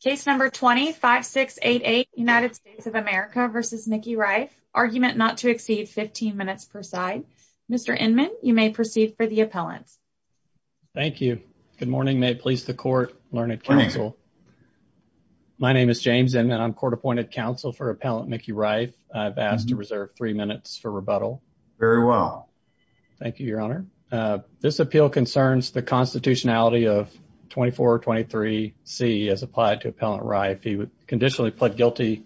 case number 25688 united states of america versus mickey rife argument not to exceed 15 minutes per side mr inman you may proceed for the appellant thank you good morning may it please the court learned counsel my name is james and i'm court appointed counsel for appellant mickey rife i've asked to reserve three minutes for rebuttal very well thank you your honor uh this appeal concerns the constitutionality of 24 23 c as applied to appellant rife he would conditionally plead guilty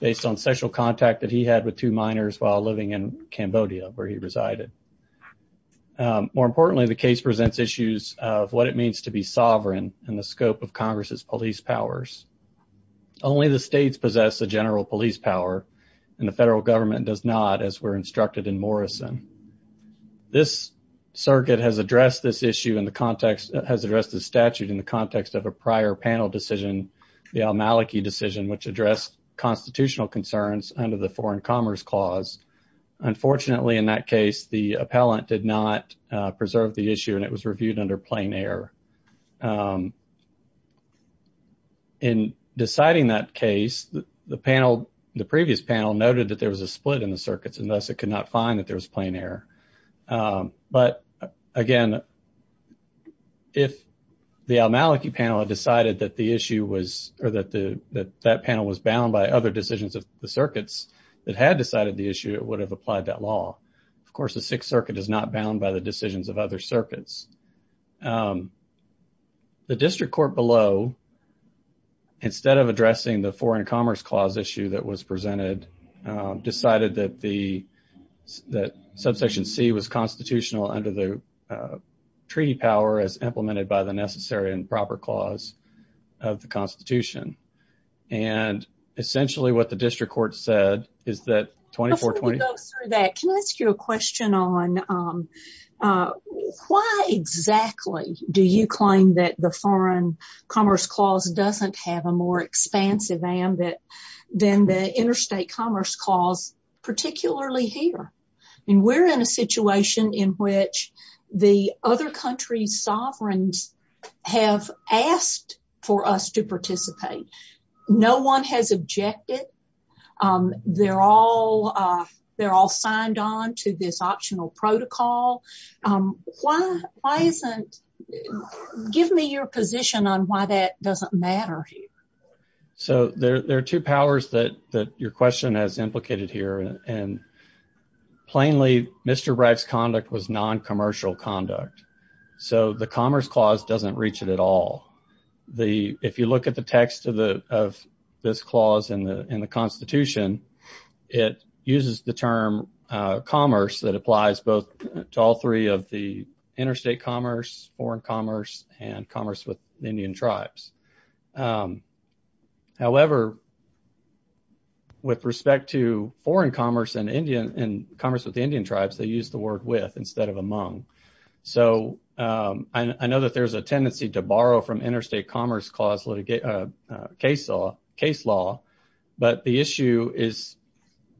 based on sexual contact that he had with two minors while living in cambodia where he resided more importantly the case presents issues of what it means to be sovereign in the scope of congress's police powers only the states possess the general police power and the federal government does not as we're instructed in morrison this circuit has addressed this issue in the context has addressed the statute in the context of a prior panel decision the al-maliki decision which addressed constitutional concerns under the foreign commerce clause unfortunately in that case the appellant did not preserve the issue and it was reviewed under plain air um in deciding that case the panel the previous panel noted that there was a split in the circuits and thus it could not find that there was plain air um but again if the al-maliki panel had decided that the issue was or that the that panel was bound by other decisions of the circuits that had decided the issue it would have applied that law of course the sixth circuit is not bound by decisions of other circuits um the district court below instead of addressing the foreign commerce clause issue that was presented um decided that the that subsection c was constitutional under the uh treaty power as implemented by the necessary and proper clause of the constitution and essentially what the district court said is that 2420 that can i ask you a question on um why exactly do you claim that the foreign commerce clause doesn't have a more expansive ambit than the interstate commerce clause particularly here and we're in a situation in which the other countries sovereigns have asked for us to participate no one has objected um they're all uh they're all signed on to this optional protocol um why why isn't give me your position on why that doesn't matter here so there are two powers that that your question has implicated here and plainly mr bragg's conduct was non-commercial conduct so the commerce clause doesn't reach it at all the if you look at the text of the of this clause in the in the constitution it uses the term uh commerce that applies both to all three of the interstate commerce foreign commerce and commerce with indian tribes um however with respect to foreign commerce and indian and commerce with the indian tribes they use the word with instead of among so um i know that there's a tendency to borrow from interstate commerce clause litigation uh case law case law but the issue is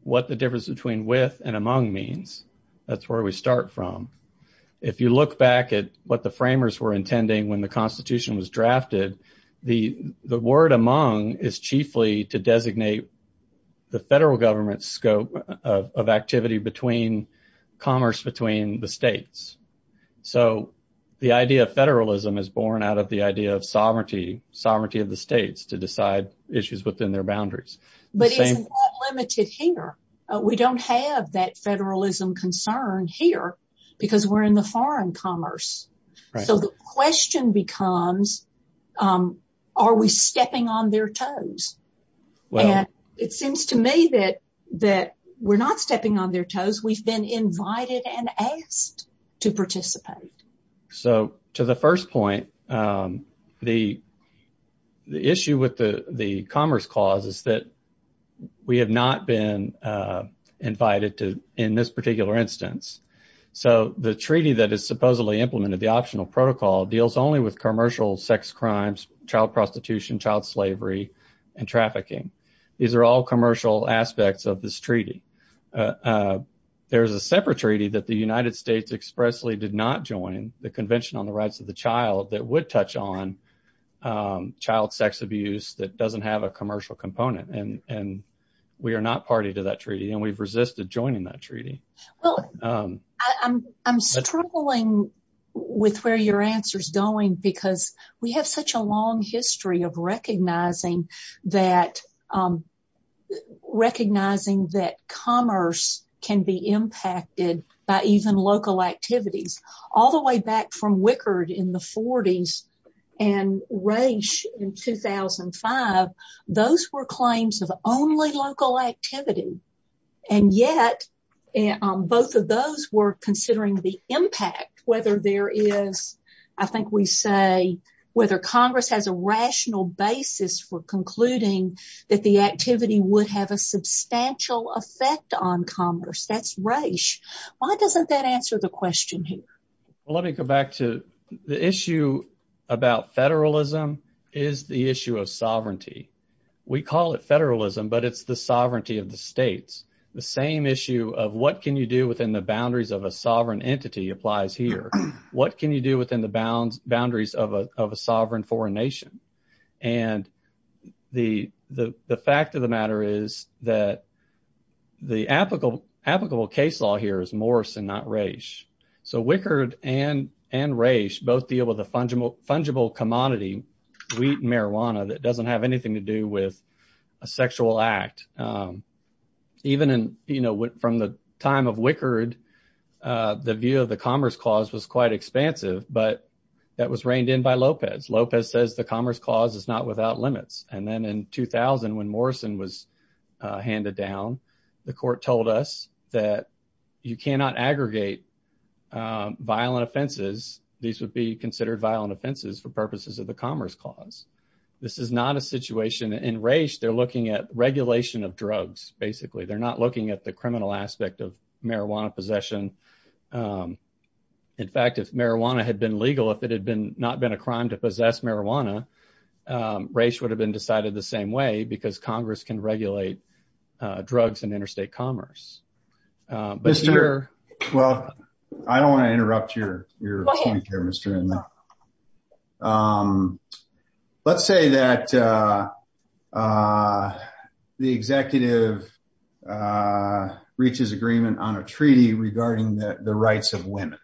what the difference between with and among means that's where we start from if you look back at what the framers were intending when the constitution was drafted the the word among is chiefly to designate the federal government scope of activity between commerce between the states so the idea of federalism is born out of the idea of sovereignty sovereignty of the states to decide issues within their boundaries but it's not limited here we don't have that federalism concern here because we're in the foreign commerce so the question becomes um are we stepping on their toes and it seems to me that that we're not stepping on their toes we've been invited and asked to participate so to the first point um the the issue with the the commerce clause is that we have not been uh invited to in this particular instance so the treaty that is supposedly implemented the optional protocol deals only with commercial sex crimes child prostitution child slavery and trafficking these are all there's a separate treaty that the united states expressly did not join the convention on the rights of the child that would touch on um child sex abuse that doesn't have a commercial component and and we are not party to that treaty and we've resisted joining that treaty well um i'm i'm struggling with where your answer's going because we have such a long history of recognizing that um recognizing that commerce can be impacted by even local activities all the way back from wickard in the 40s and race in 2005 those were claims of only local activity and yet both of those were considering the impact whether there is i think we say whether congress has a that the activity would have a substantial effect on commerce that's race why doesn't that answer the question here well let me go back to the issue about federalism is the issue of sovereignty we call it federalism but it's the sovereignty of the states the same issue of what can you do within the boundaries of a sovereign entity applies here what can you do within the bounds of a sovereign foreign nation and the the fact of the matter is that the applicable applicable case law here is morrison not race so wickard and and race both deal with a fungible fungible commodity wheat and marijuana that doesn't have anything to do with a sexual act um even in you know from the time of wickard uh the view of the commerce clause was quite expansive but that was reined in by lopez lopez says the commerce clause is not without limits and then in 2000 when morrison was handed down the court told us that you cannot aggregate violent offenses these would be considered violent offenses for purposes of the commerce clause this is not a situation in race they're looking at regulation of drugs basically they're not looking at the criminal aspect of marijuana possession in fact if marijuana had been legal if it had been not been a crime to possess marijuana race would have been decided the same way because congress can regulate drugs and interstate commerce but here well i don't interrupt your your point here mister um let's say that uh uh the executive uh reaches agreement on a treaty regarding the rights of women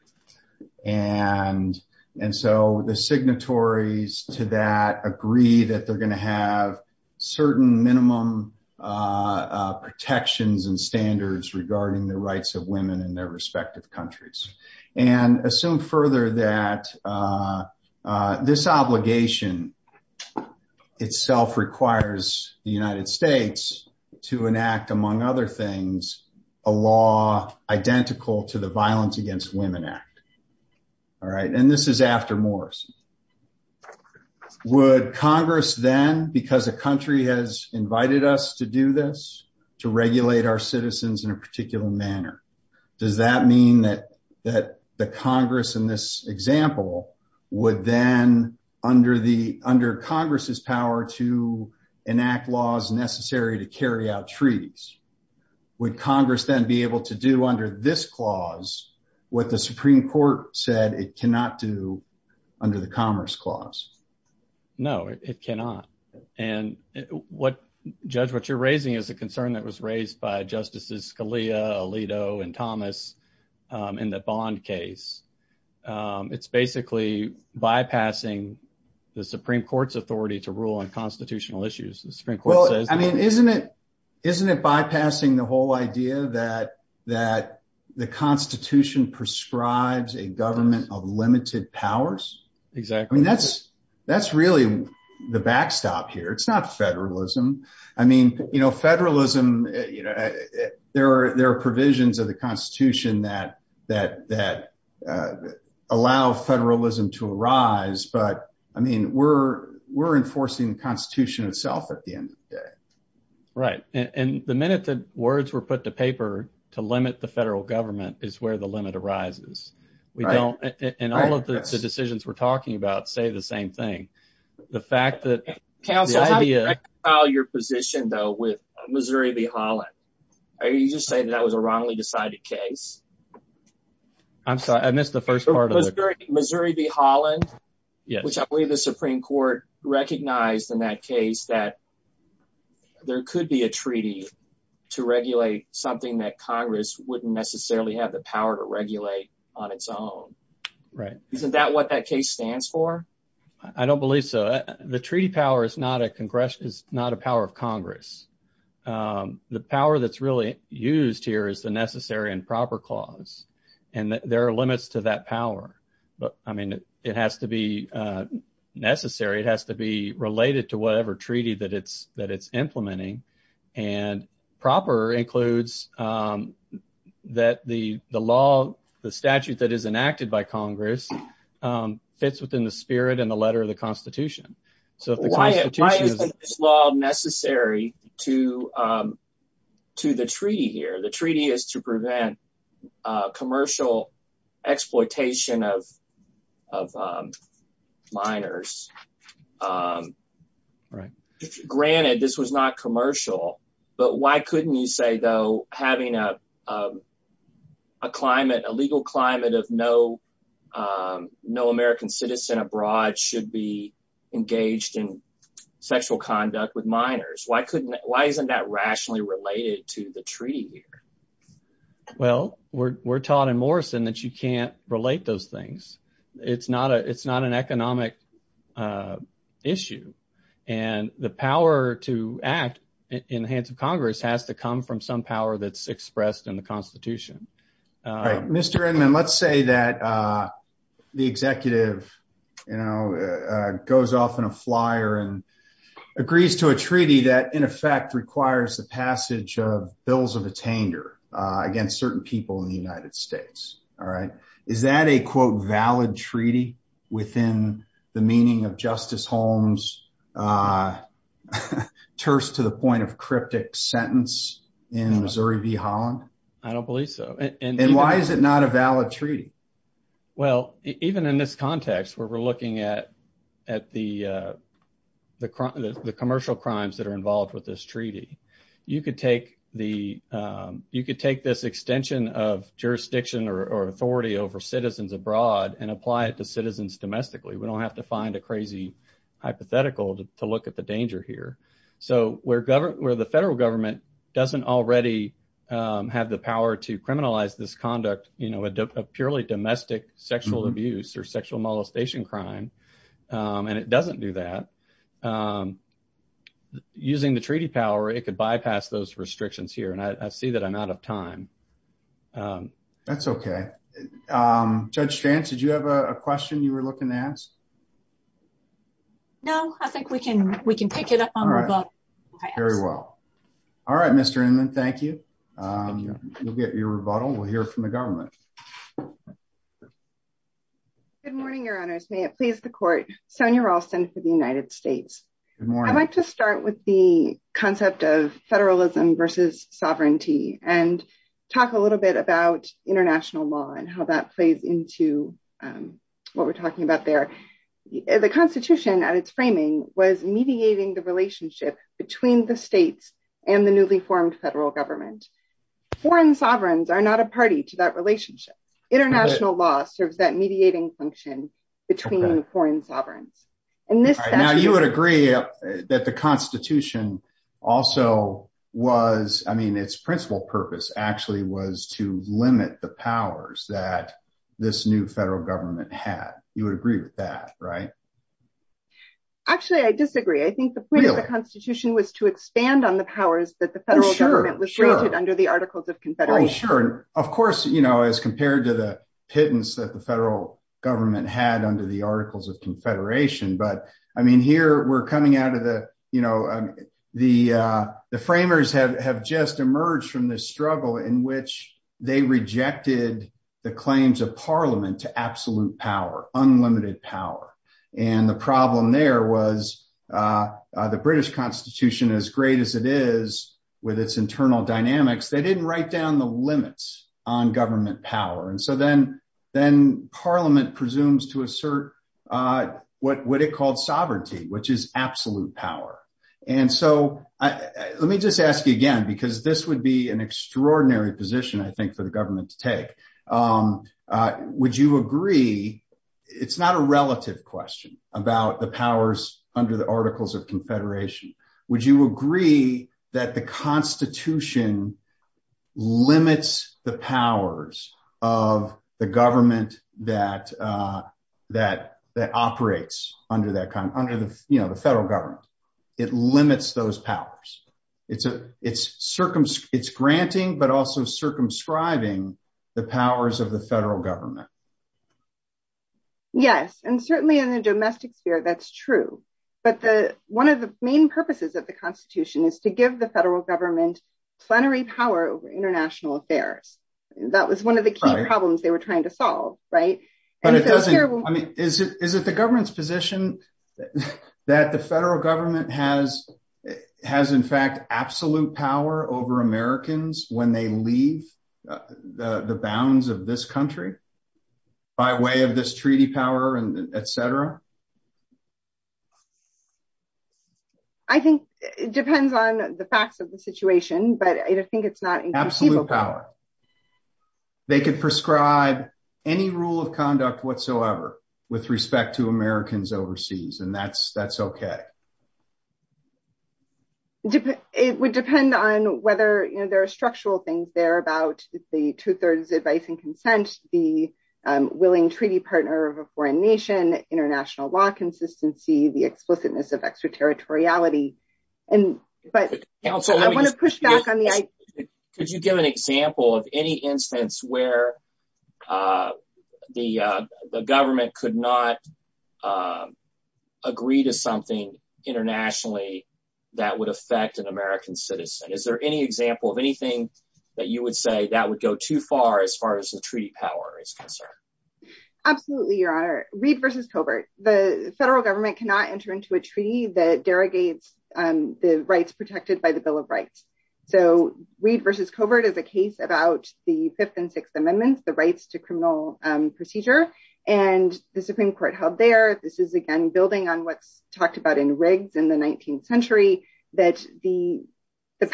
and and so the signatories to that agree that they're going to have certain minimum uh protections and standards regarding the rights of women in their countries and assume further that uh uh this obligation itself requires the united states to enact among other things a law identical to the violence against women act all right and this is after morrison would congress then because a country has invited us to do this to regulate our citizens in a particular manner does that mean that that the congress in this example would then under the under congress's power to enact laws necessary to carry out treaties would congress then be able to do under this clause what the supreme court said it cannot do under the commerce clause no it cannot and what judge what you're raising is a concern that was raised by justices alito and thomas um in the bond case um it's basically bypassing the supreme court's authority to rule on constitutional issues the supreme court says i mean isn't it isn't it bypassing the whole idea that that the constitution prescribes a government of limited powers exactly i mean that's that's really the backstop here it's not federalism i mean you know federalism you know there are there are provisions of the constitution that that that uh allow federalism to arise but i mean we're we're enforcing the constitution itself at the end of the day right and the minute the words were put to paper to limit the federal government is where the limit arises we don't and all of the decisions we're talking about say the same thing the fact that council idea how your position though with missouri v holland are you just saying that that was a wrongly decided case i'm sorry i missed the first part of missouri v holland which i believe the supreme court recognized in that case that there could be a treaty to regulate something that congress wouldn't necessarily have the power to regulate on its own right isn't that what that case stands for i don't believe so the treaty power is not a congressional is not a power of congress um the power that's really used here is the necessary and proper clause and there are limits to that power but i mean it has to be uh necessary it that it's implementing and proper includes um that the the law the statute that is enacted by congress um fits within the spirit and the letter of the constitution so if the constitution is law necessary to um to the treaty here the treaty is to prevent uh commercial exploitation of of um minors um right granted this was not commercial but why couldn't you say though having a a climate a legal climate of no um no american citizen abroad should be engaged in sexual conduct with minors why couldn't why isn't that rationally related to the treaty here well we're taught in morrison that you can't relate those things it's not a it's not an economic uh issue and the power to act in the hands of congress has to come from some power that's expressed in the constitution right mr inman let's say that uh the executive you know goes off in a flyer and agrees to a treaty that in effect requires the passage of bills of tainter uh against certain people in the united states all right is that a quote valid treaty within the meaning of justice holmes uh terse to the point of cryptic sentence in missouri v holland i don't believe so and why is it not a valid treaty well even in this context where we're looking at at the uh the crime the commercial crimes that are involved with this treaty you could take the um you could take this extension of jurisdiction or authority over citizens abroad and apply it to citizens domestically we don't have to find a crazy hypothetical to look at the danger here so we're governed where the federal government doesn't already um have the power to criminalize this conduct you know a purely domestic sexual abuse or sexual molestation crime and it doesn't do that um using the treaty power it could bypass those restrictions here and i see that i'm out of time um that's okay um judge chance did you have a question you were looking to ask no i think we can we can pick it up on very well all right mr inman thank you um you'll get your rebuttal we'll hear from the government good morning your honors may it please the court sonia ralston for the united states i'd like to start with the concept of federalism versus sovereignty and talk a little bit about international law and how that plays into um what we're talking about there the constitution at its framing was mediating the relationship between the states and the newly formed federal government foreign sovereigns are not a party to that relationship international law serves mediating function between foreign sovereigns and this now you would agree that the constitution also was i mean its principal purpose actually was to limit the powers that this new federal government had you would agree with that right actually i disagree i think the point of the constitution was to expand on the powers that the federal government was rated under the articles sure of course you know as compared to the pittance that the federal government had under the articles of confederation but i mean here we're coming out of the you know um the uh the framers have have just emerged from this struggle in which they rejected the claims of parliament to absolute power unlimited power and the problem there was uh the british constitution as great as it is with its internal dynamics they didn't write down the limits on government power and so then then parliament presumes to assert uh what what it called sovereignty which is absolute power and so i let me just ask you again because this would be an extraordinary position i think for the government to take um uh would you agree it's not a relative question about the powers under the articles of confederation would you agree that the constitution limits the powers of the government that uh that that operates under that kind under the you know the federal government it limits those powers it's a it's circum it's granting but also circumscribing the powers of the federal government yes and certainly in the domestic sphere that's true but the one of the main purposes of the constitution is to give the federal government plenary power over international affairs that was one of the key problems they were trying to solve right but it doesn't i mean is it is it the government's position that the federal government has has in fact absolute power over americans when they leave the the bounds of this country by way of this treaty power and etc i think it depends on the facts of the situation but i think it's not absolute power they could prescribe any rule of conduct whatsoever with respect to americans overseas and that's that's okay it would depend on whether you know there are structural things there about the two-thirds advice and consent the willing treaty partner of a foreign nation international law consistency the explicitness of extraterritoriality and but i want to push back on the idea could you give an example of any instance where uh the uh the government could not uh agree to something internationally that would affect an american citizen is there any example of anything that you would say that would go too far as far as the treaty power is concerned absolutely your honor reed versus covert the federal government cannot enter into a treaty that derogates um the rights protected by the bill of rights so reed versus covert is a case about the fifth and sixth amendments the rights to criminal um procedure and the supreme court held there this is again building on what's talked about in rigs in the 19th century that the the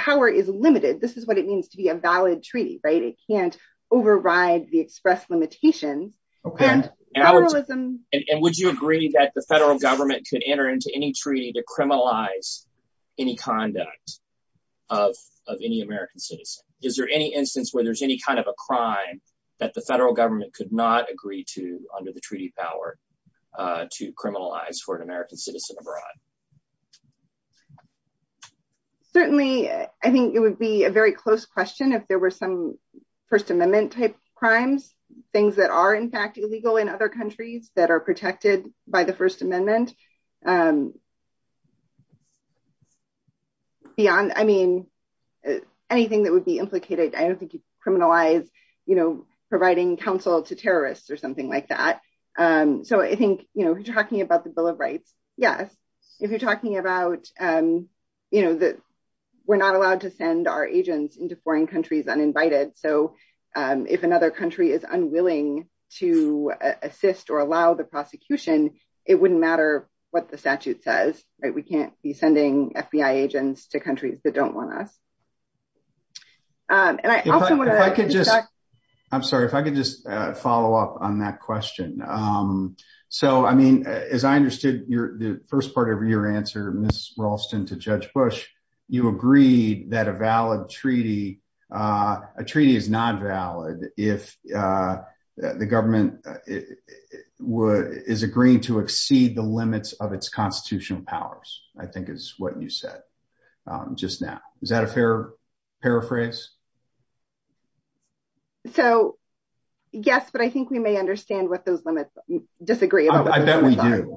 limited this is what it means to be a valid treaty right it can't override the expressed limitations okay and would you agree that the federal government could enter into any treaty to criminalize any conduct of of any american citizen is there any instance where there's any kind of a crime that the federal government could not agree to under the treaty power uh to criminalize for an american citizen abroad um certainly i think it would be a very close question if there were some first amendment type crimes things that are in fact illegal in other countries that are protected by the first amendment um beyond i mean anything that would be implicated i don't think you criminalize you know providing counsel to terrorists or something like that um so i about the bill of rights yes if you're talking about um you know that we're not allowed to send our agents into foreign countries uninvited so um if another country is unwilling to assist or allow the prosecution it wouldn't matter what the statute says right we can't be sending fbi agents to countries that don't want us um and i also want to i could just i'm sorry if i could just follow up on that question um so i mean as i understood your the first part of your answer miss ralston to judge bush you agreed that a valid treaty uh a treaty is not valid if uh the government would is agreeing to exceed the limits of its constitutional powers i think is what you said um just now is that a fair paraphrase so yes but i think we may understand what those limits disagree i bet we do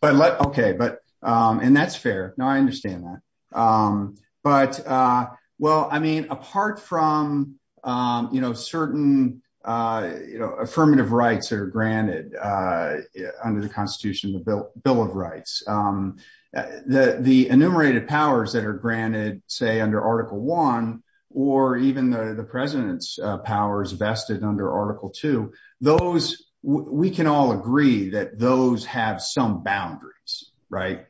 but let okay but um and that's fair no i understand that um but uh well i mean apart from um you know certain uh you know affirmative rights that are granted uh under the constitution the bill bill of rights um the the enumerated powers that are granted say under article one or even the the president's powers vested under article two those we can all agree that those have some boundaries right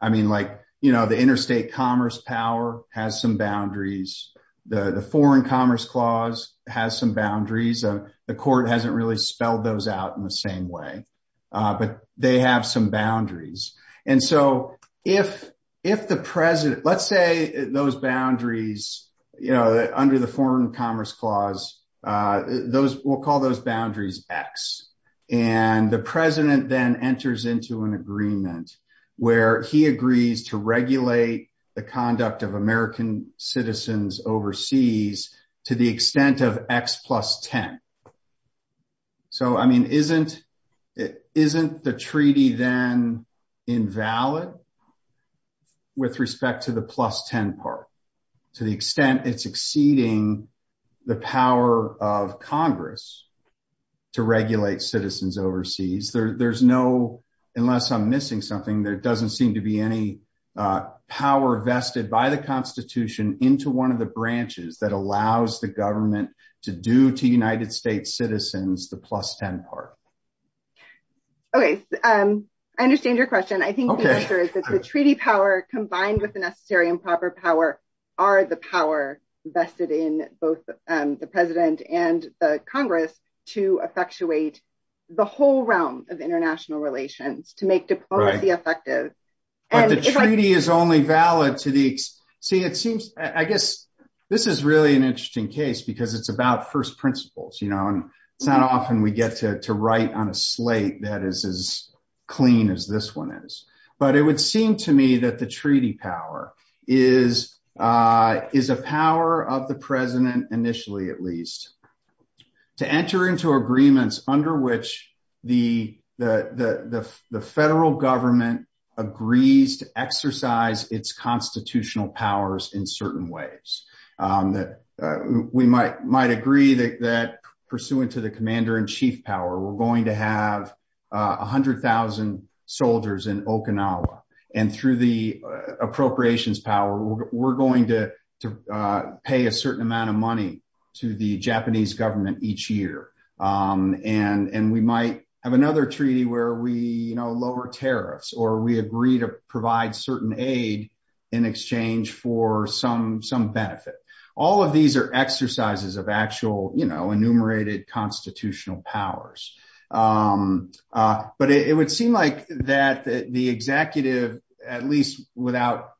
i mean like you know the interstate commerce power has some boundaries the the foreign commerce clause has some boundaries uh the court hasn't really spelled those out in the same way uh but they have some boundaries and so if if the president let's say those boundaries you know under the foreign commerce clause uh those we'll call those boundaries x and the president then enters into an agreement where he agrees to regulate the conduct of american isn't the treaty then invalid with respect to the plus 10 part to the extent it's exceeding the power of congress to regulate citizens overseas there there's no unless i'm missing something there doesn't seem to be any uh power vested by the constitution into one of the branches that allows the government to do to united states citizens the 10 part okay um i understand your question i think the answer is that the treaty power combined with the necessary and proper power are the power vested in both the president and the congress to effectuate the whole realm of international relations to make diplomacy effective and the treaty is only valid to the see it seems i guess this is really an interesting case because it's about first principles you know and it's not often we get to to write on a slate that is as clean as this one is but it would seem to me that the treaty power is uh is a power of the president initially at least to enter into agreements under which the the the the federal government agrees to exercise its constitutional powers in certain ways um that we might might agree that that pursuant to the commander-in-chief power we're going to have a hundred thousand soldiers in okinawa and through the appropriations power we're going to to pay a certain amount of money to the japanese government each year um and and we might have another treaty where we you know lower tariffs or we agree to provide certain aid in exchange for some some benefit all of these are exercises of actual you know enumerated constitutional powers um uh but it would seem like that the executive at least without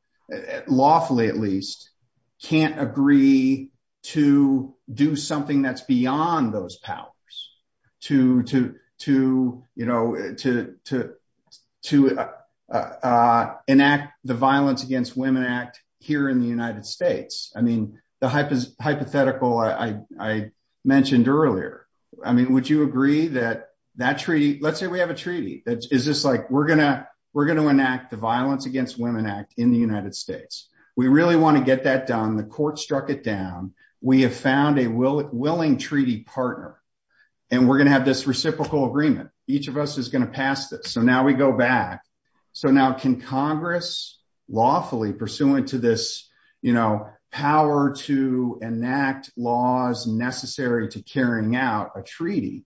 lawfully at least can't agree to do that's beyond those powers to to to you know to to to uh uh enact the violence against women act here in the united states i mean the hype is hypothetical i i mentioned earlier i mean would you agree that that treaty let's say we have a treaty that is just like we're gonna we're going to enact the violence against women act in the united states we really want to get that done the court struck it down we have found a will willing treaty partner and we're going to have this reciprocal agreement each of us is going to pass this so now we go back so now can congress lawfully pursuant to this you know power to enact laws necessary to carrying out a treaty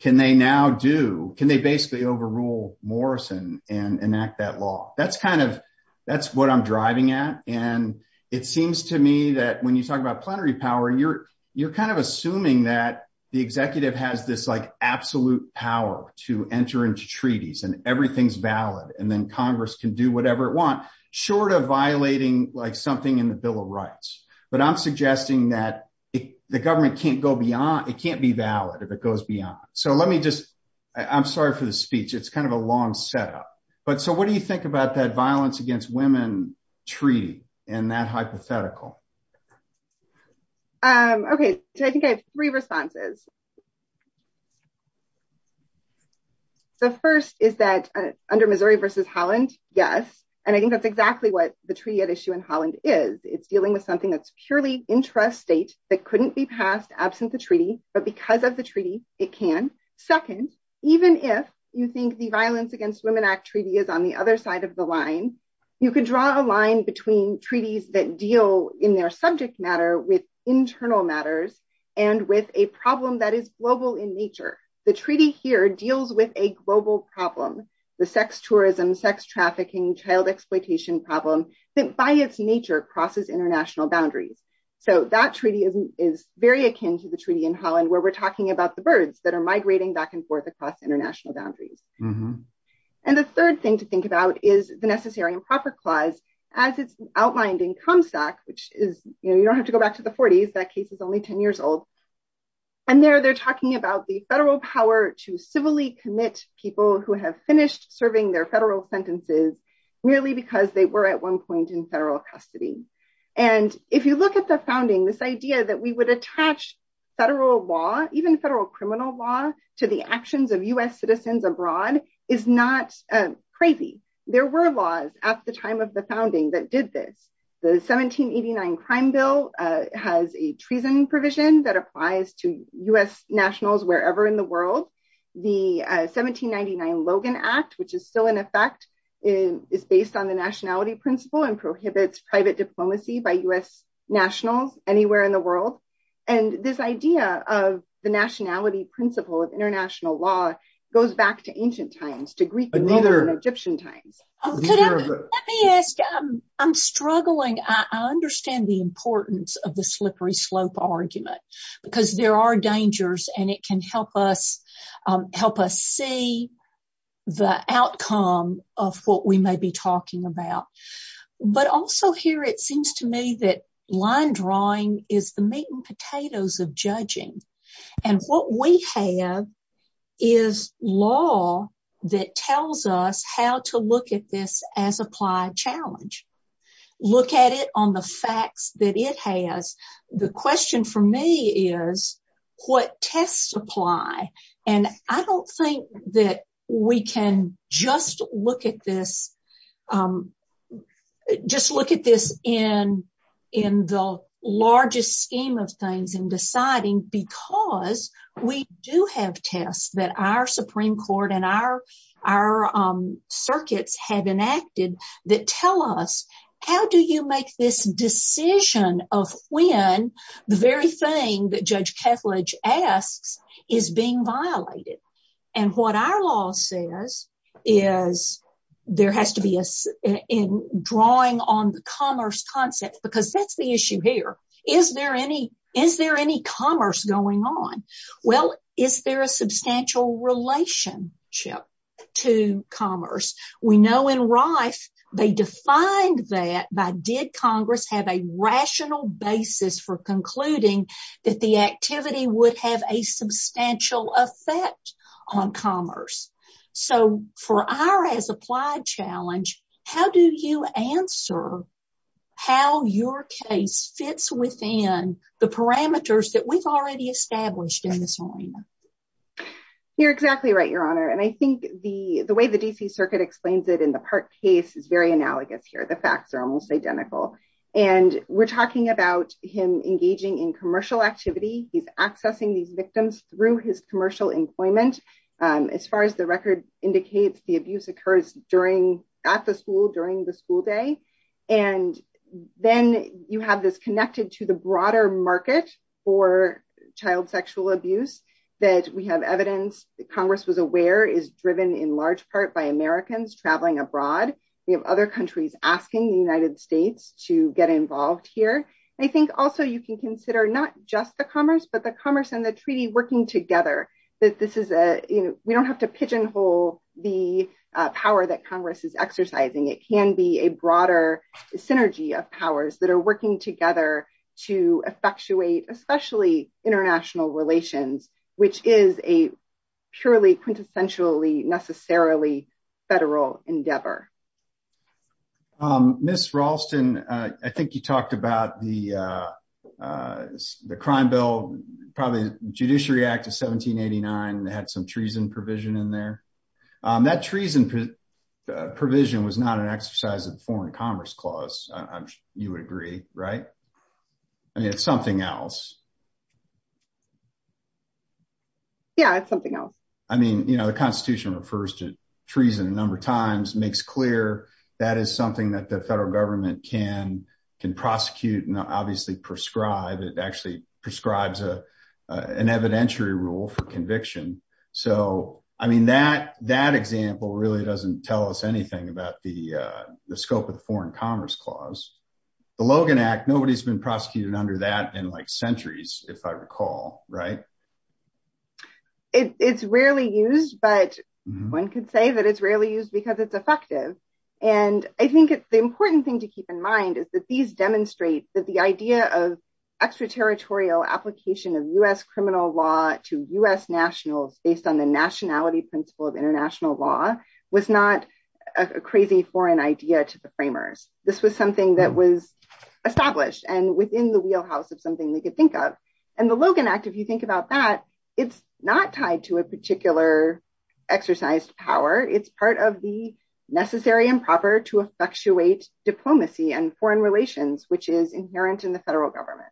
can they now do can they basically overrule morrison and enact that law that's kind of that's what i'm driving at and it seems to me that when you talk about plenary power you're you're kind of assuming that the executive has this like absolute power to enter into treaties and everything's valid and then congress can do whatever it want short of violating like something in the bill of rights but i'm suggesting that the government can't go beyond it can't be valid if it goes beyond so let me just i'm sorry for the speech it's kind of a long setup but so what do you think about that violence against women treaty and that hypothetical um okay so i think i have three responses so first is that under missouri versus holland yes and i think that's exactly what the treaty at issue in holland is it's dealing with something that's purely intrastate that couldn't be passed absent the treaty but because of the treaty it can second even if you think the violence against women act treaty is on the other side of the line you can draw a line between treaties that deal in their subject matter with internal matters and with a problem that is global in nature the treaty here deals with a global problem the sex tourism sex trafficking child exploitation problem that by its nature crosses international boundaries so that treaty is very akin to the treaty in holland where we're talking about the birds that are migrating back and forth across international boundaries and the third thing to think about is the necessary and proper clause as it's outlined in comstock which is you know you don't have to go back to the 40s that case is only 10 years old and there they're talking about the federal power to civilly commit people who have finished serving their federal sentences merely because they were at one point in federal custody and if you look at the founding this idea that we would attach federal law even federal criminal law to the citizens abroad is not crazy there were laws at the time of the founding that did this the 1789 crime bill has a treason provision that applies to u.s nationals wherever in the world the 1799 logan act which is still in effect in is based on the nationality principle and prohibits private diplomacy by u.s nationals anywhere in the world and this idea of the nationality principle of international law goes back to ancient times to greek and egyptian times let me ask um i'm struggling i understand the importance of the slippery slope argument because there are dangers and it can help us um help us see the outcome of what we may be talking about but also here it is law that tells us how to look at this as applied challenge look at it on the facts that it has the question for me is what tests apply and i don't think that we can just look at this um just look at this in in the largest scheme of things in deciding because we do have tests that our supreme court and our our um circuits have enacted that tell us how do you make this decision of when the very thing that judge kethledge asks is being violated and what our law says is there has to be a in drawing on the commerce concept because that's the issue here is there any is there any commerce going on well is there a substantial relationship to commerce we know in rife they defined that by did congress have a rational basis for concluding that the so for our as applied challenge how do you answer how your case fits within the parameters that we've already established in this arena you're exactly right your honor and i think the the way the dc circuit explains it in the park case is very analogous here the facts are almost identical and we're talking about him engaging in commercial activity he's accessing these victims through his indicates the abuse occurs during at the school during the school day and then you have this connected to the broader market for child sexual abuse that we have evidence that congress was aware is driven in large part by americans traveling abroad we have other countries asking the united states to get involved here i think also you can consider not just the commerce but the commerce and the treaty working together that this is a you know we don't have to pigeonhole the power that congress is exercising it can be a broader synergy of powers that are working together to effectuate especially international relations which is a purely quintessentially necessarily federal endeavor um miss ralston i think you talked about the uh uh the crime bill probably judiciary act of 1789 they had some treason provision in there um that treason provision was not an exercise of the foreign commerce clause you would agree right i mean it's something else yeah it's something else i mean you know the constitution refers to treason a number of times makes clear that is something that the federal government can can prosecute and obviously prescribe it actually prescribes a an evidentiary rule for conviction so i mean that that example really doesn't tell us anything about the uh the scope of the foreign commerce clause the logan nobody's been prosecuted under that in like centuries if i recall right it's rarely used but one could say that it's rarely used because it's effective and i think it's the important thing to keep in mind is that these demonstrate that the idea of extraterritorial application of u.s criminal law to u.s nationals based on the nationality principle of international law was not a crazy foreign idea to the framers this was something that was established and within the wheelhouse of something they could think of and the logan act if you think about that it's not tied to a particular exercised power it's part of the necessary and proper to effectuate diplomacy and foreign relations which is inherent in the federal government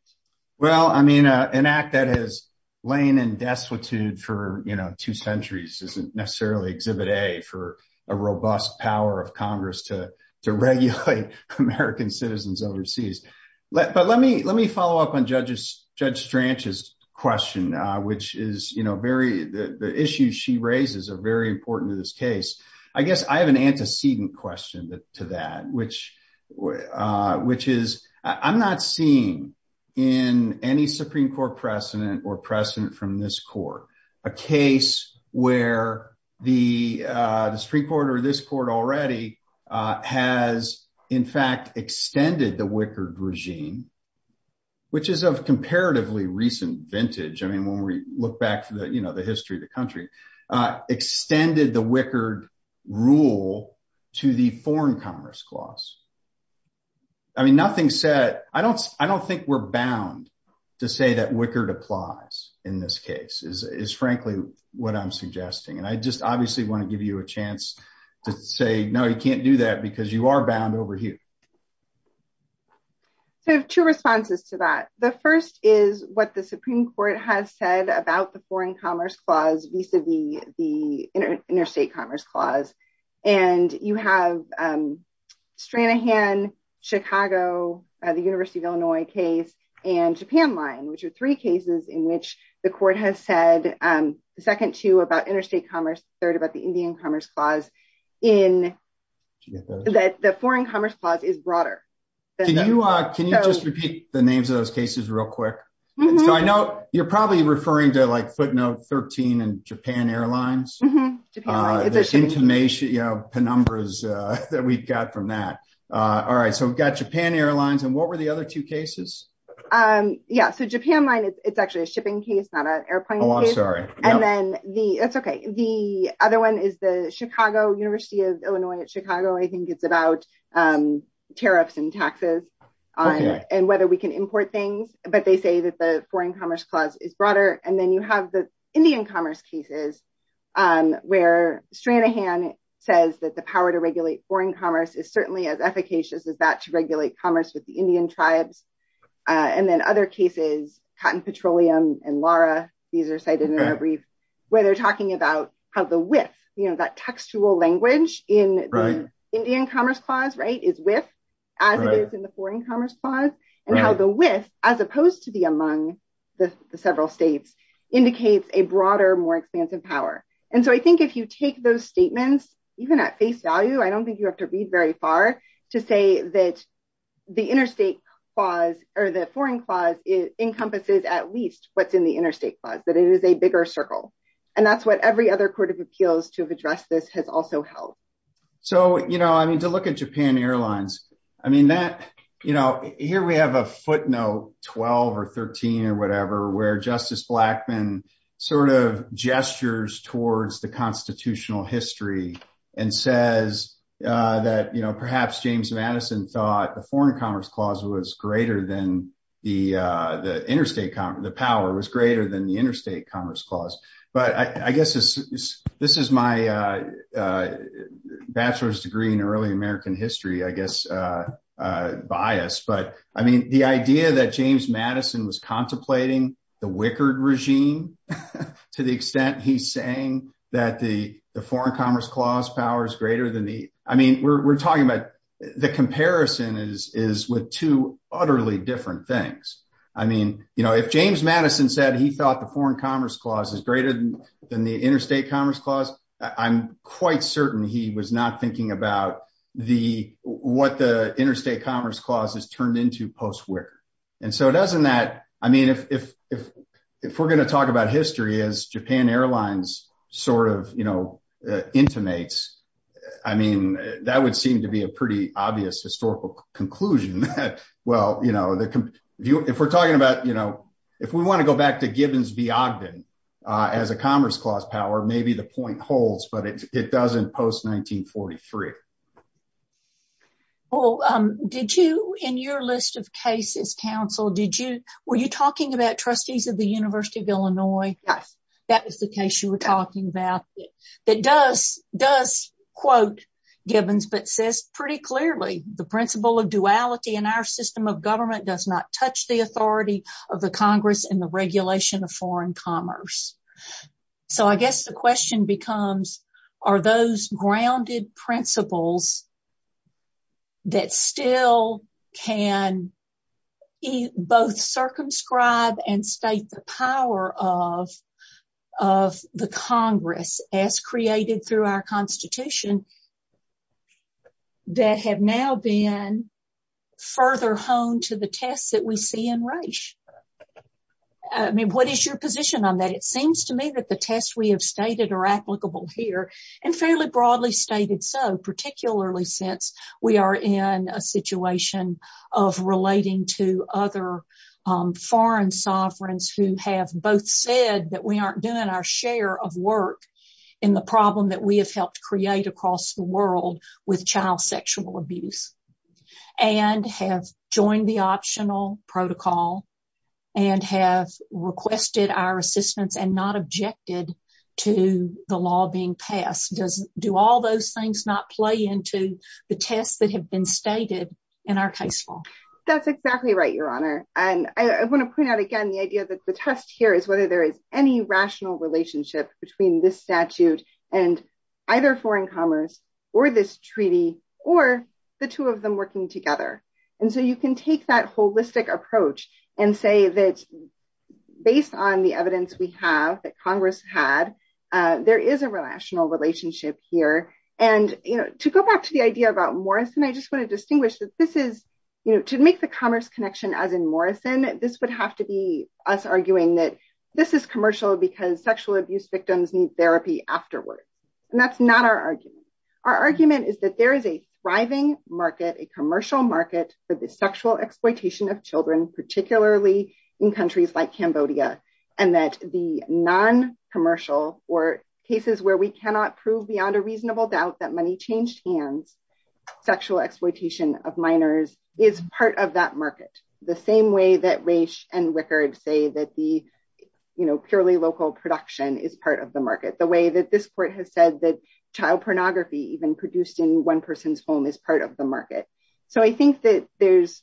well i mean an act that has lain in destitute for you know two centuries isn't necessarily exhibit a for a robust power of congress to to regulate american citizens overseas but let me let me follow up on judges judge stranches question uh which is you know very the the issues she raises are very important to this case i guess i have an antecedent question to that which uh which is i'm not seeing in any supreme court precedent or precedent from this court a case where the uh the supreme court or this court already uh has in fact extended the wickard regime which is of comparatively recent vintage i mean when we look back to the you know the history of the country uh extended the wicked rule to the foreign commerce clause i mean nothing said i don't i don't think we're bound to say that wickard applies in this case is frankly what i'm suggesting and i just obviously want to give you a chance to say no you can't do that because you are bound over here so two responses to that the first is what the supreme court has said about the foreign commerce clause vis-a-vis the interstate commerce clause and you have um stranahan chicago the university of illinois case and japan line which are three cases in which the court has said um the second two about interstate commerce third about the indian commerce clause in that the foreign commerce clause is broader can you uh can you just repeat the names of those cases real quick so i know you're probably referring to like footnote 13 and japan airlines uh there's information you know penumbra's uh that we've got from that uh all right so we've got japan airlines and what were the other two cases um yeah so japan line is it's actually a shipping case not an airplane oh i'm sorry and then the that's okay the other one is the chicago university of illinois at chicago i think it's about um tariffs and taxes and whether we can import things but they say that the foreign commerce clause is broader and you have the indian commerce cases um where stranahan says that the power to regulate foreign commerce is certainly as efficacious as that to regulate commerce with the indian tribes and then other cases cotton petroleum and lara these are cited in a brief where they're talking about how the width you know that textual language in the indian commerce clause right is with as it indicates a broader more expansive power and so i think if you take those statements even at face value i don't think you have to read very far to say that the interstate clause or the foreign clause encompasses at least what's in the interstate clause that it is a bigger circle and that's what every other court of appeals to have addressed this has also held so you know i mean to look at japan airlines i mean that you know here we have a footnote 12 or 13 or whatever where justice blackman sort of gestures towards the constitutional history and says uh that you know perhaps james madison thought the foreign commerce clause was greater than the uh the interstate the power was greater than the interstate commerce clause but i i guess this this is my uh bachelor's degree in early american history i guess uh uh bias but i mean the idea that james madison was contemplating the wickard regime to the extent he's saying that the the foreign commerce clause power is greater than the i mean we're talking about the comparison is is with two utterly different things i mean you know if james madison said he thought the foreign commerce clause is greater than the interstate commerce clause i'm quite certain he was not about the what the interstate commerce clause is turned into post where and so it doesn't that i mean if if if we're going to talk about history as japan airlines sort of you know intimates i mean that would seem to be a pretty obvious historical conclusion that well you know the if we're talking about you know if we want to go back to gibbons v ogden uh as a commerce power maybe the point holds but it doesn't post 1943 well um did you in your list of cases council did you were you talking about trustees of the university of illinois yes that was the case you were talking about that does does quote gibbons but says pretty clearly the principle of duality in our system of government does not touch the authority of the congress and the regulation of i guess the question becomes are those grounded principles that still can both circumscribe and state the power of of the congress as created through our constitution that have now been further honed to the tests that we see in race i mean what is your position on that it seems to me that the tests we have stated are applicable here and fairly broadly stated so particularly since we are in a situation of relating to other um foreign sovereigns who have both said that we aren't doing our share of work in the problem that we have helped create across the world with child sexual abuse and have joined the optional protocol and have requested our assistance and not objected to the law being passed does do all those things not play into the tests that have been stated in our case law that's exactly right your honor and i want to point out again the idea that the test here is whether there is any rational relationship between this statute and either foreign commerce or this treaty or the two of them working together and so can take that holistic approach and say that based on the evidence we have that congress had there is a relational relationship here and you know to go back to the idea about morrison i just want to distinguish that this is you know to make the commerce connection as in morrison this would have to be us arguing that this is commercial because sexual abuse victims need therapy afterward and that's not our argument our argument is that there is a thriving market a commercial market for the sexual exploitation of children particularly in countries like cambodia and that the non-commercial or cases where we cannot prove beyond a reasonable doubt that money changed hands sexual exploitation of minors is part of that market the same way that race and record say that the you know purely local production is part of the market the way that this court has said that child pornography even produced in one person's home is part of the market so i think that there's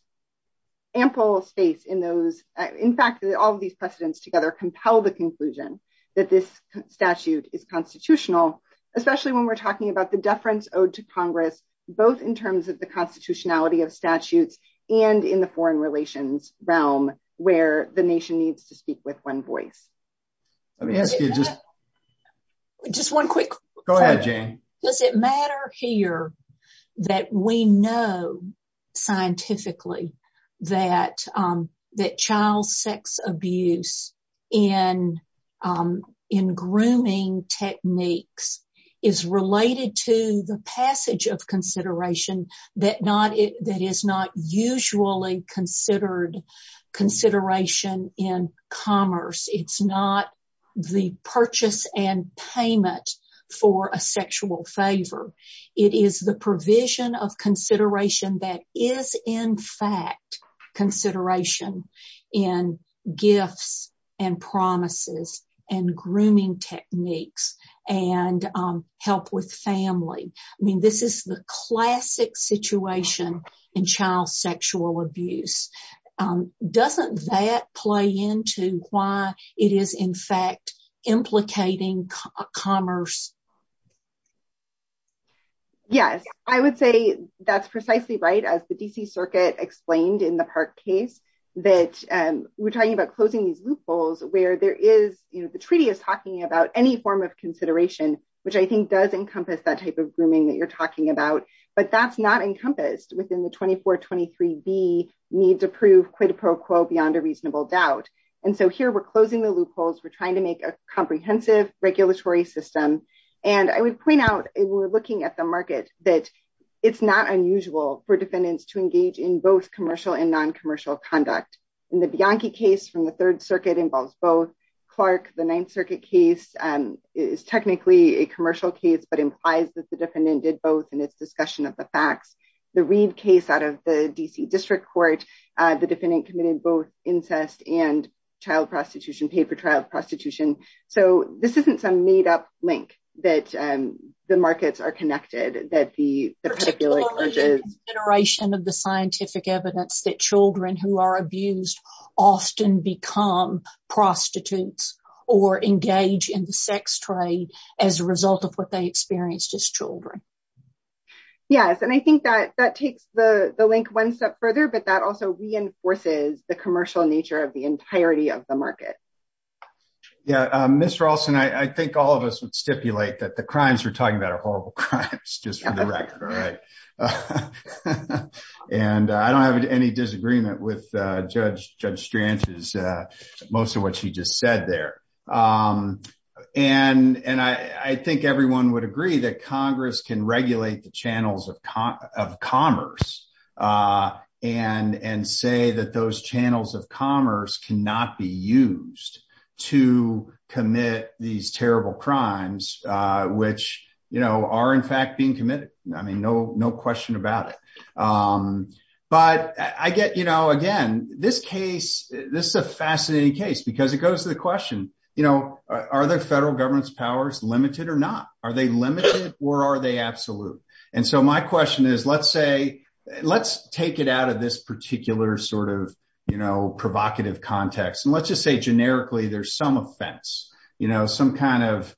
ample space in those in fact that all of these precedents together compel the conclusion that this statute is constitutional especially when we're talking about the deference owed to congress both in terms of the constitutionality of statutes and in the foreign relations realm where the nation needs to speak with one voice let me ask you just just one quick go ahead jane does it matter here that we know scientifically that um that child sex abuse in um in grooming techniques is related to the passage of consideration that not it that is not usually considered consideration in commerce it's not the purchase and payment for a sexual favor it is the provision of consideration that is in fact consideration in gifts and promises and grooming techniques and help with family i mean this is the classic situation in child sexual abuse doesn't that play into why it is in fact implicating commerce yes i would say that's precisely right as the dc circuit explained in the park case that we're talking about closing these loopholes where there is you know the treaty is talking about any form of consideration which i think does encompass that type of grooming that you're talking about but that's not encompassed within the 2423b need to prove quid pro quo beyond a reasonable doubt and so here we're closing the loopholes we're trying to make a comprehensive regulatory system and i would point out we're looking at the market that it's not unusual for defendants to engage in both commercial and non-commercial conduct in the bianchi case from the third circuit involves both clark the ninth circuit case um is technically a commercial case but implies that the defendant did both in its discussion of the facts the reed case out of the dc district court uh the defendant committed both incest and child prostitution paid for child prostitution so this isn't some made-up link that um the markets are connected that the particular iteration of the scientific evidence that children who are abused often become prostitutes or engage in the sex trade as a result of what they experienced as children yes and i think that that takes the the link one step further but that also reinforces the commercial nature of the entirety of the market yeah um mr allston i think all of us would stipulate that the crimes we're talking about are horrible crimes just for the record all right and i don't have any disagreement with uh judge judge stranches uh most of what she just said there um and and i i think everyone would agree that congress can regulate the channels of commerce uh and and say that those channels of commerce cannot be used to commit these terrible crimes uh which you know are in um but i get you know again this case this is a fascinating case because it goes to the question you know are the federal government's powers limited or not are they limited or are they absolute and so my question is let's say let's take it out of this particular sort of you know provocative context and let's just say generically there's some offense you know some kind of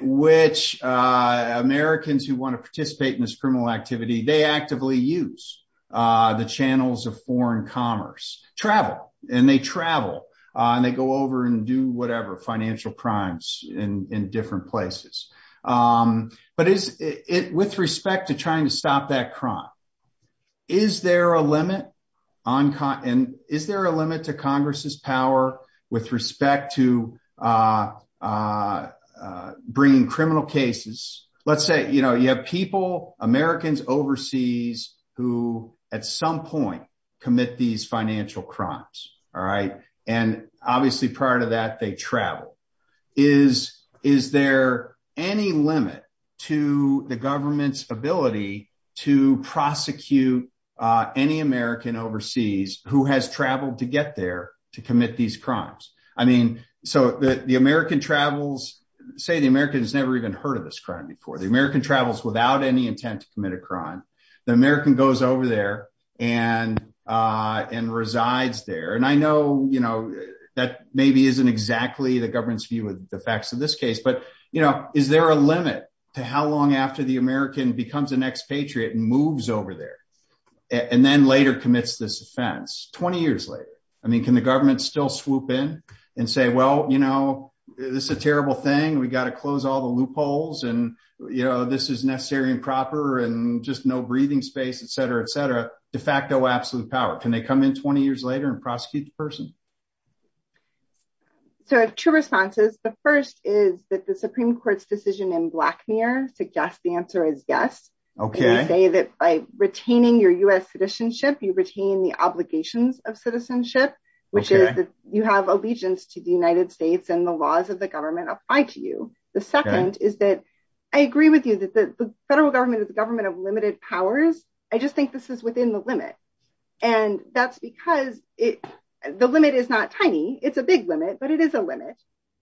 which uh americans who want to participate in this criminal activity they actively use uh the channels of foreign commerce travel and they travel and they go over and do whatever financial crimes in in different places um but is it with respect to trying to stop that crime is there a limit on con and is there a limit to congress's power with respect to uh uh bringing criminal cases let's say you know you have people americans overseas who at some point commit these financial crimes all right and obviously prior to that they travel is is there any limit to the government's ability to prosecute uh any american overseas who has traveled to get there to commit these crimes i mean so the american travels say the american has never even heard of this crime before the american travels without any intent to commit a crime the american goes over there and uh and resides there and i know you know that maybe isn't exactly the government's view of the facts of this case but you know is there a limit to how long after the american becomes an expatriate and moves over there and then later commits this offense 20 years later i mean can the government still swoop in and say well you know this is a terrible thing we got to close all the loopholes and you know this is necessary and proper and just no breathing space etc etc de facto absolute power can they come in 20 years later and prosecute the person so two responses the first is that the supreme court's decision in black mirror suggest the answer is yes okay you say that by retaining your u.s citizenship you retain the obligations of citizenship which is that you have allegiance to the united states and the laws of the government apply to you the second is that i agree with you that the federal government is the government of limited powers i just think this is within the limit and that's because it the limit is not tiny it's a big limit but it is a limit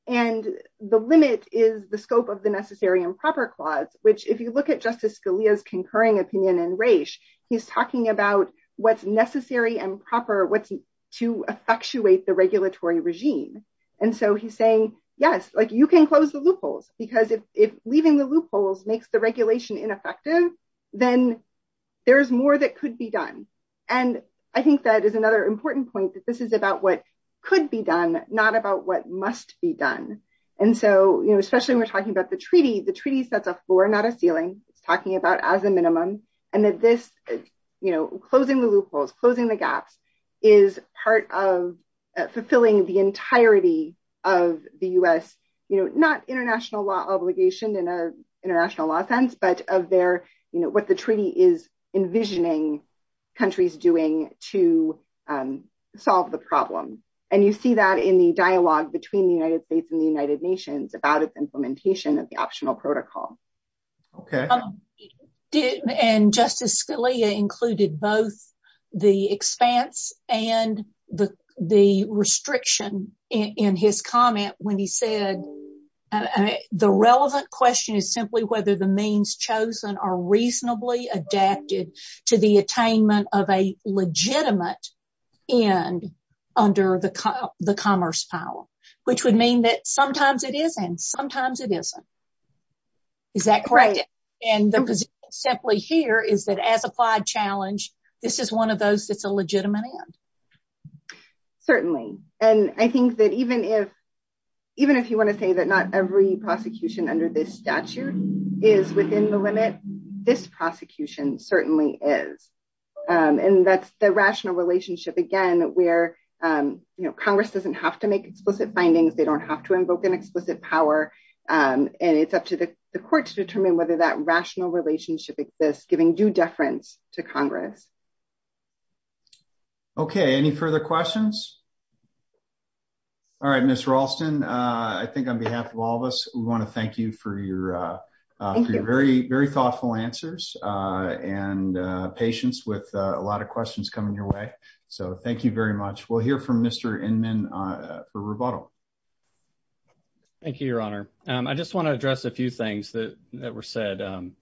and the limit is the scope of the necessary and proper clause which if you look at justice scalia's concurring opinion and race he's talking about what's necessary and proper what's to effectuate the regulatory regime and so he's saying yes like you can close the loopholes because if if leaving the loopholes makes the regulation ineffective then there's more that could be done and i think that is another important point that this is about what could be done not about what must be done and so you know especially when we're talking about the treaty the treaty sets a floor not a ceiling it's talking about as a minimum and that this you know closing the loopholes closing the gaps is part of fulfilling the entirety of the u.s you know not international law obligation in a international law sense but of their you know what the treaty is envisioning countries doing to solve the problem and you see that in the dialogue between the united states and the united nations about its implementation of the optional protocol okay did and justice scalia included both the expanse and the the restriction in his comment when he said the relevant question is simply whether the means chosen are reasonably adapted to the attainment of a legitimate end under the the commerce power which would mean that sometimes it is and sometimes it isn't is that correct and the position simply here is that as applied challenge this is one of those that's a legitimate end certainly and i think that even if even if you want to say that not every prosecution under this statute is within the limit this prosecution certainly is and that's the findings they don't have to invoke an explicit power and it's up to the court to determine whether that rational relationship exists giving due deference to congress okay any further questions all right miss ralston uh i think on behalf of all of us we want to thank you for your uh thank you very very thoughtful answers uh and uh patience with a lot of questions coming your way so thank you very much we'll hear from mr inman uh for rebuttal thank you your honor um i just want to address a few things that that were said um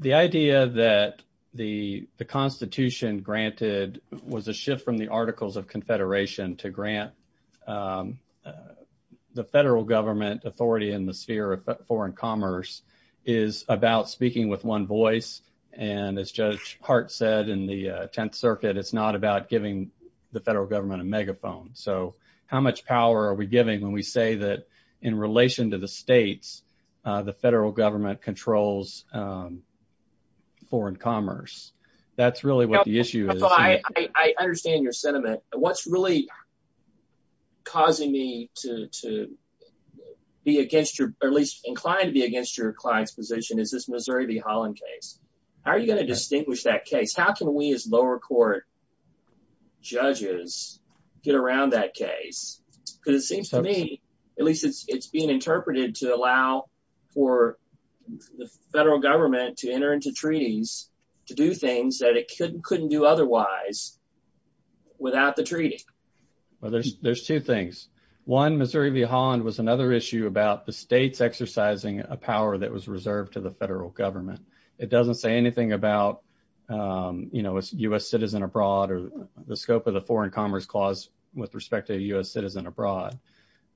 the idea that the the constitution granted was a shift from the articles of confederation to grant um the federal government authority in the sphere of foreign commerce is about speaking with one voice and as judge hart said in the 10th circuit it's not about giving the federal government a megaphone so how much power are we giving when we say that in relation to the states uh the federal government controls um foreign commerce that's really what the issue is i i understand your sentiment what's really causing me to to be against your at least inclined to be against your client's position is this how can we as lower court judges get around that case because it seems to me at least it's it's being interpreted to allow for the federal government to enter into treaties to do things that it couldn't couldn't do otherwise without the treaty well there's there's two things one missouri v holland was another issue about the states exercising a power that was reserved to federal government it doesn't say anything about um you know it's u.s citizen abroad or the scope of the foreign commerce clause with respect to u.s citizen abroad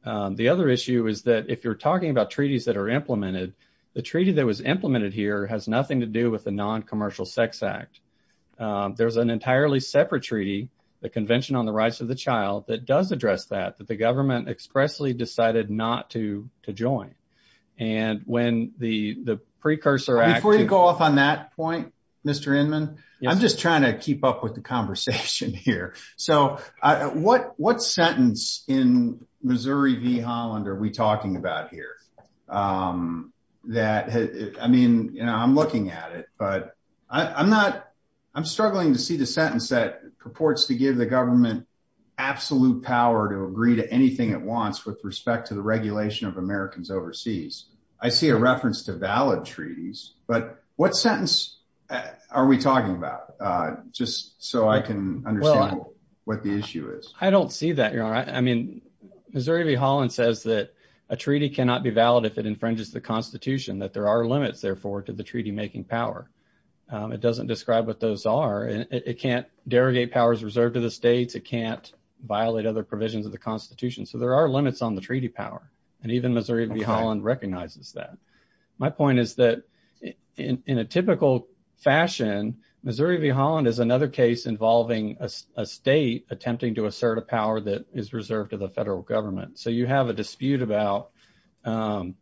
the other issue is that if you're talking about treaties that are implemented the treaty that was implemented here has nothing to do with the non-commercial sex act there's an entirely separate treaty the convention on the rights of the child that does address that that the government expressly decided not to to join and when the the precursor act before you go off on that point mr inman i'm just trying to keep up with the conversation here so uh what what sentence in missouri v holland are we talking about here um that i mean you know i'm looking at it but i i'm not i'm struggling to see the sentence that purports to give the government absolute power to agree to anything it wants with respect to the regulation of americans overseas i see a reference to valid treaties but what sentence are we talking about uh just so i can understand what the issue is i don't see that you're all right i mean missouri v holland says that a treaty cannot be valid if it infringes the constitution that there are limits therefore to the treaty making power um it doesn't describe what those are and it can't derogate powers reserved to the states it can't violate other provisions of the constitution so there are limits on the treaty power and even missouri v holland recognizes that my point is that in in a typical fashion missouri v holland is another case involving a state attempting to assert a power that is reserved to the federal government so you have a dispute about um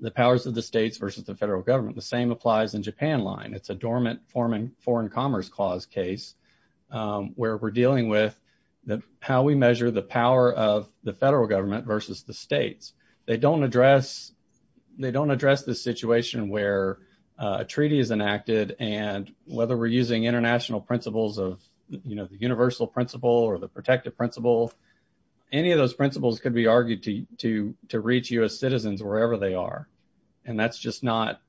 the powers of the states versus the federal government the same applies in japan line it's a dormant forming foreign commerce clause case um where we're of the federal government versus the states they don't address they don't address the situation where a treaty is enacted and whether we're using international principles of you know the universal principle or the protective principle any of those principles could be argued to to to reach u.s citizens wherever they are and that's just not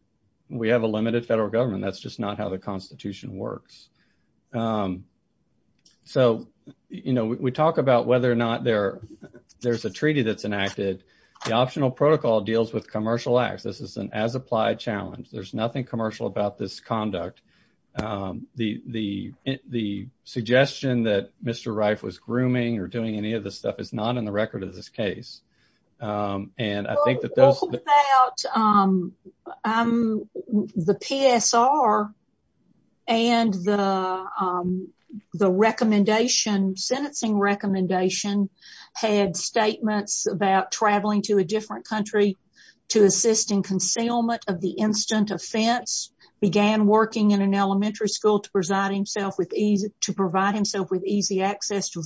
we have a limited federal government that's just not works um so you know we talk about whether or not there there's a treaty that's enacted the optional protocol deals with commercial acts this is an as applied challenge there's nothing commercial about this conduct um the the the suggestion that mr reif was grooming or doing any of this stuff is not in the record of this case um and i think that those about um um the psr and the um the recommendation sentencing recommendation had statements about traveling to a different country to assist in concealment of the instant offense began working in an elementary school to preside himself with ease to provide himself with easy access to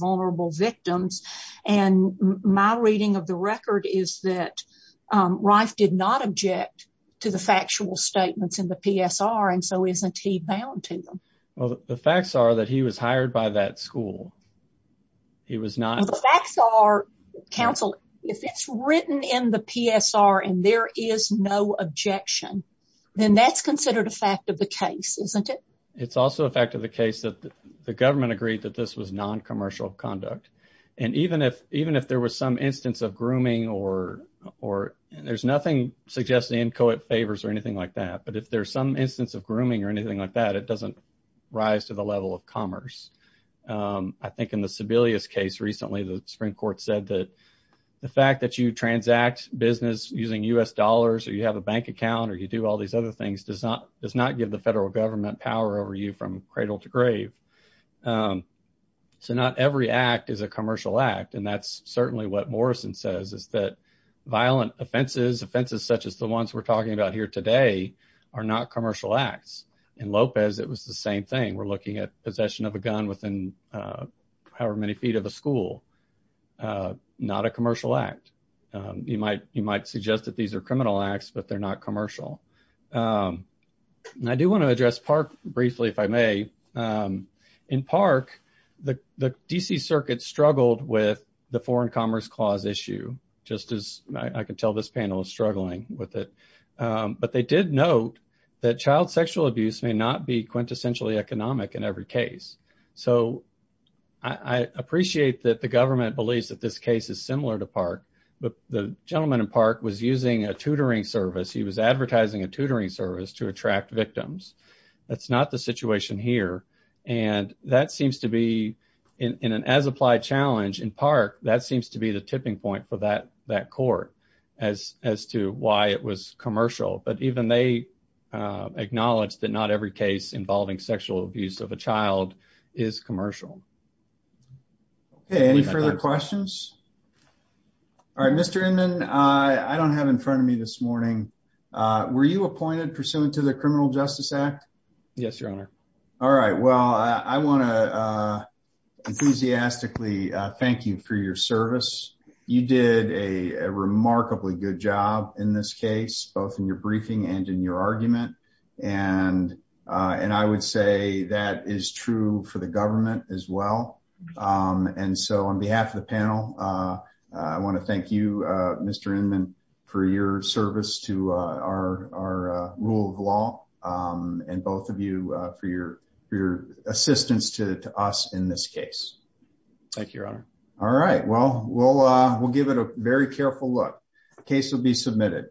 factual statements in the psr and so isn't he bound to them well the facts are that he was hired by that school he was not the facts are counsel if it's written in the psr and there is no objection then that's considered a fact of the case isn't it it's also a fact of the case that the government agreed that this was non-commercial conduct and even if even if there was some instance of grooming or or there's nothing suggesting inchoate favors or anything like that but if there's some instance of grooming or anything like that it doesn't rise to the level of commerce um i think in the sebelius case recently the supreme court said that the fact that you transact business using u.s dollars or you have a bank account or you do all these other things does not does not give the federal government power over you from cradle to grave um so not every act is a commercial act and that's certainly what morrison says is that violent offenses offenses such as the ones we're talking about here today are not commercial acts in lopez it was the same thing we're looking at possession of a gun within uh however many feet of the school uh not a commercial act um you might you might suggest that these are criminal acts but they're not commercial um i do want to address park briefly if i may um in park the the dc circuit struggled with the foreign commerce clause issue just as i can tell this panel is struggling with it um but they did note that child sexual abuse may not be quintessentially economic in every case so i i appreciate that the government believes that this case is similar to park but the gentleman in park was using a tutoring service he was here and that seems to be in an as applied challenge in park that seems to be the tipping point for that that court as as to why it was commercial but even they acknowledged that not every case involving sexual abuse of a child is commercial okay any further questions all right mr inman i i don't have in front of me this morning uh were you appointed pursuant to the all right well i want to uh enthusiastically thank you for your service you did a remarkably good job in this case both in your briefing and in your argument and uh and i would say that is true for the government as well um and so on behalf of the panel uh i want to thank you uh for your service to uh our our uh rule of law um and both of you uh for your for your assistance to us in this case thank you your honor all right well we'll uh we'll give it a very careful look case will be submitted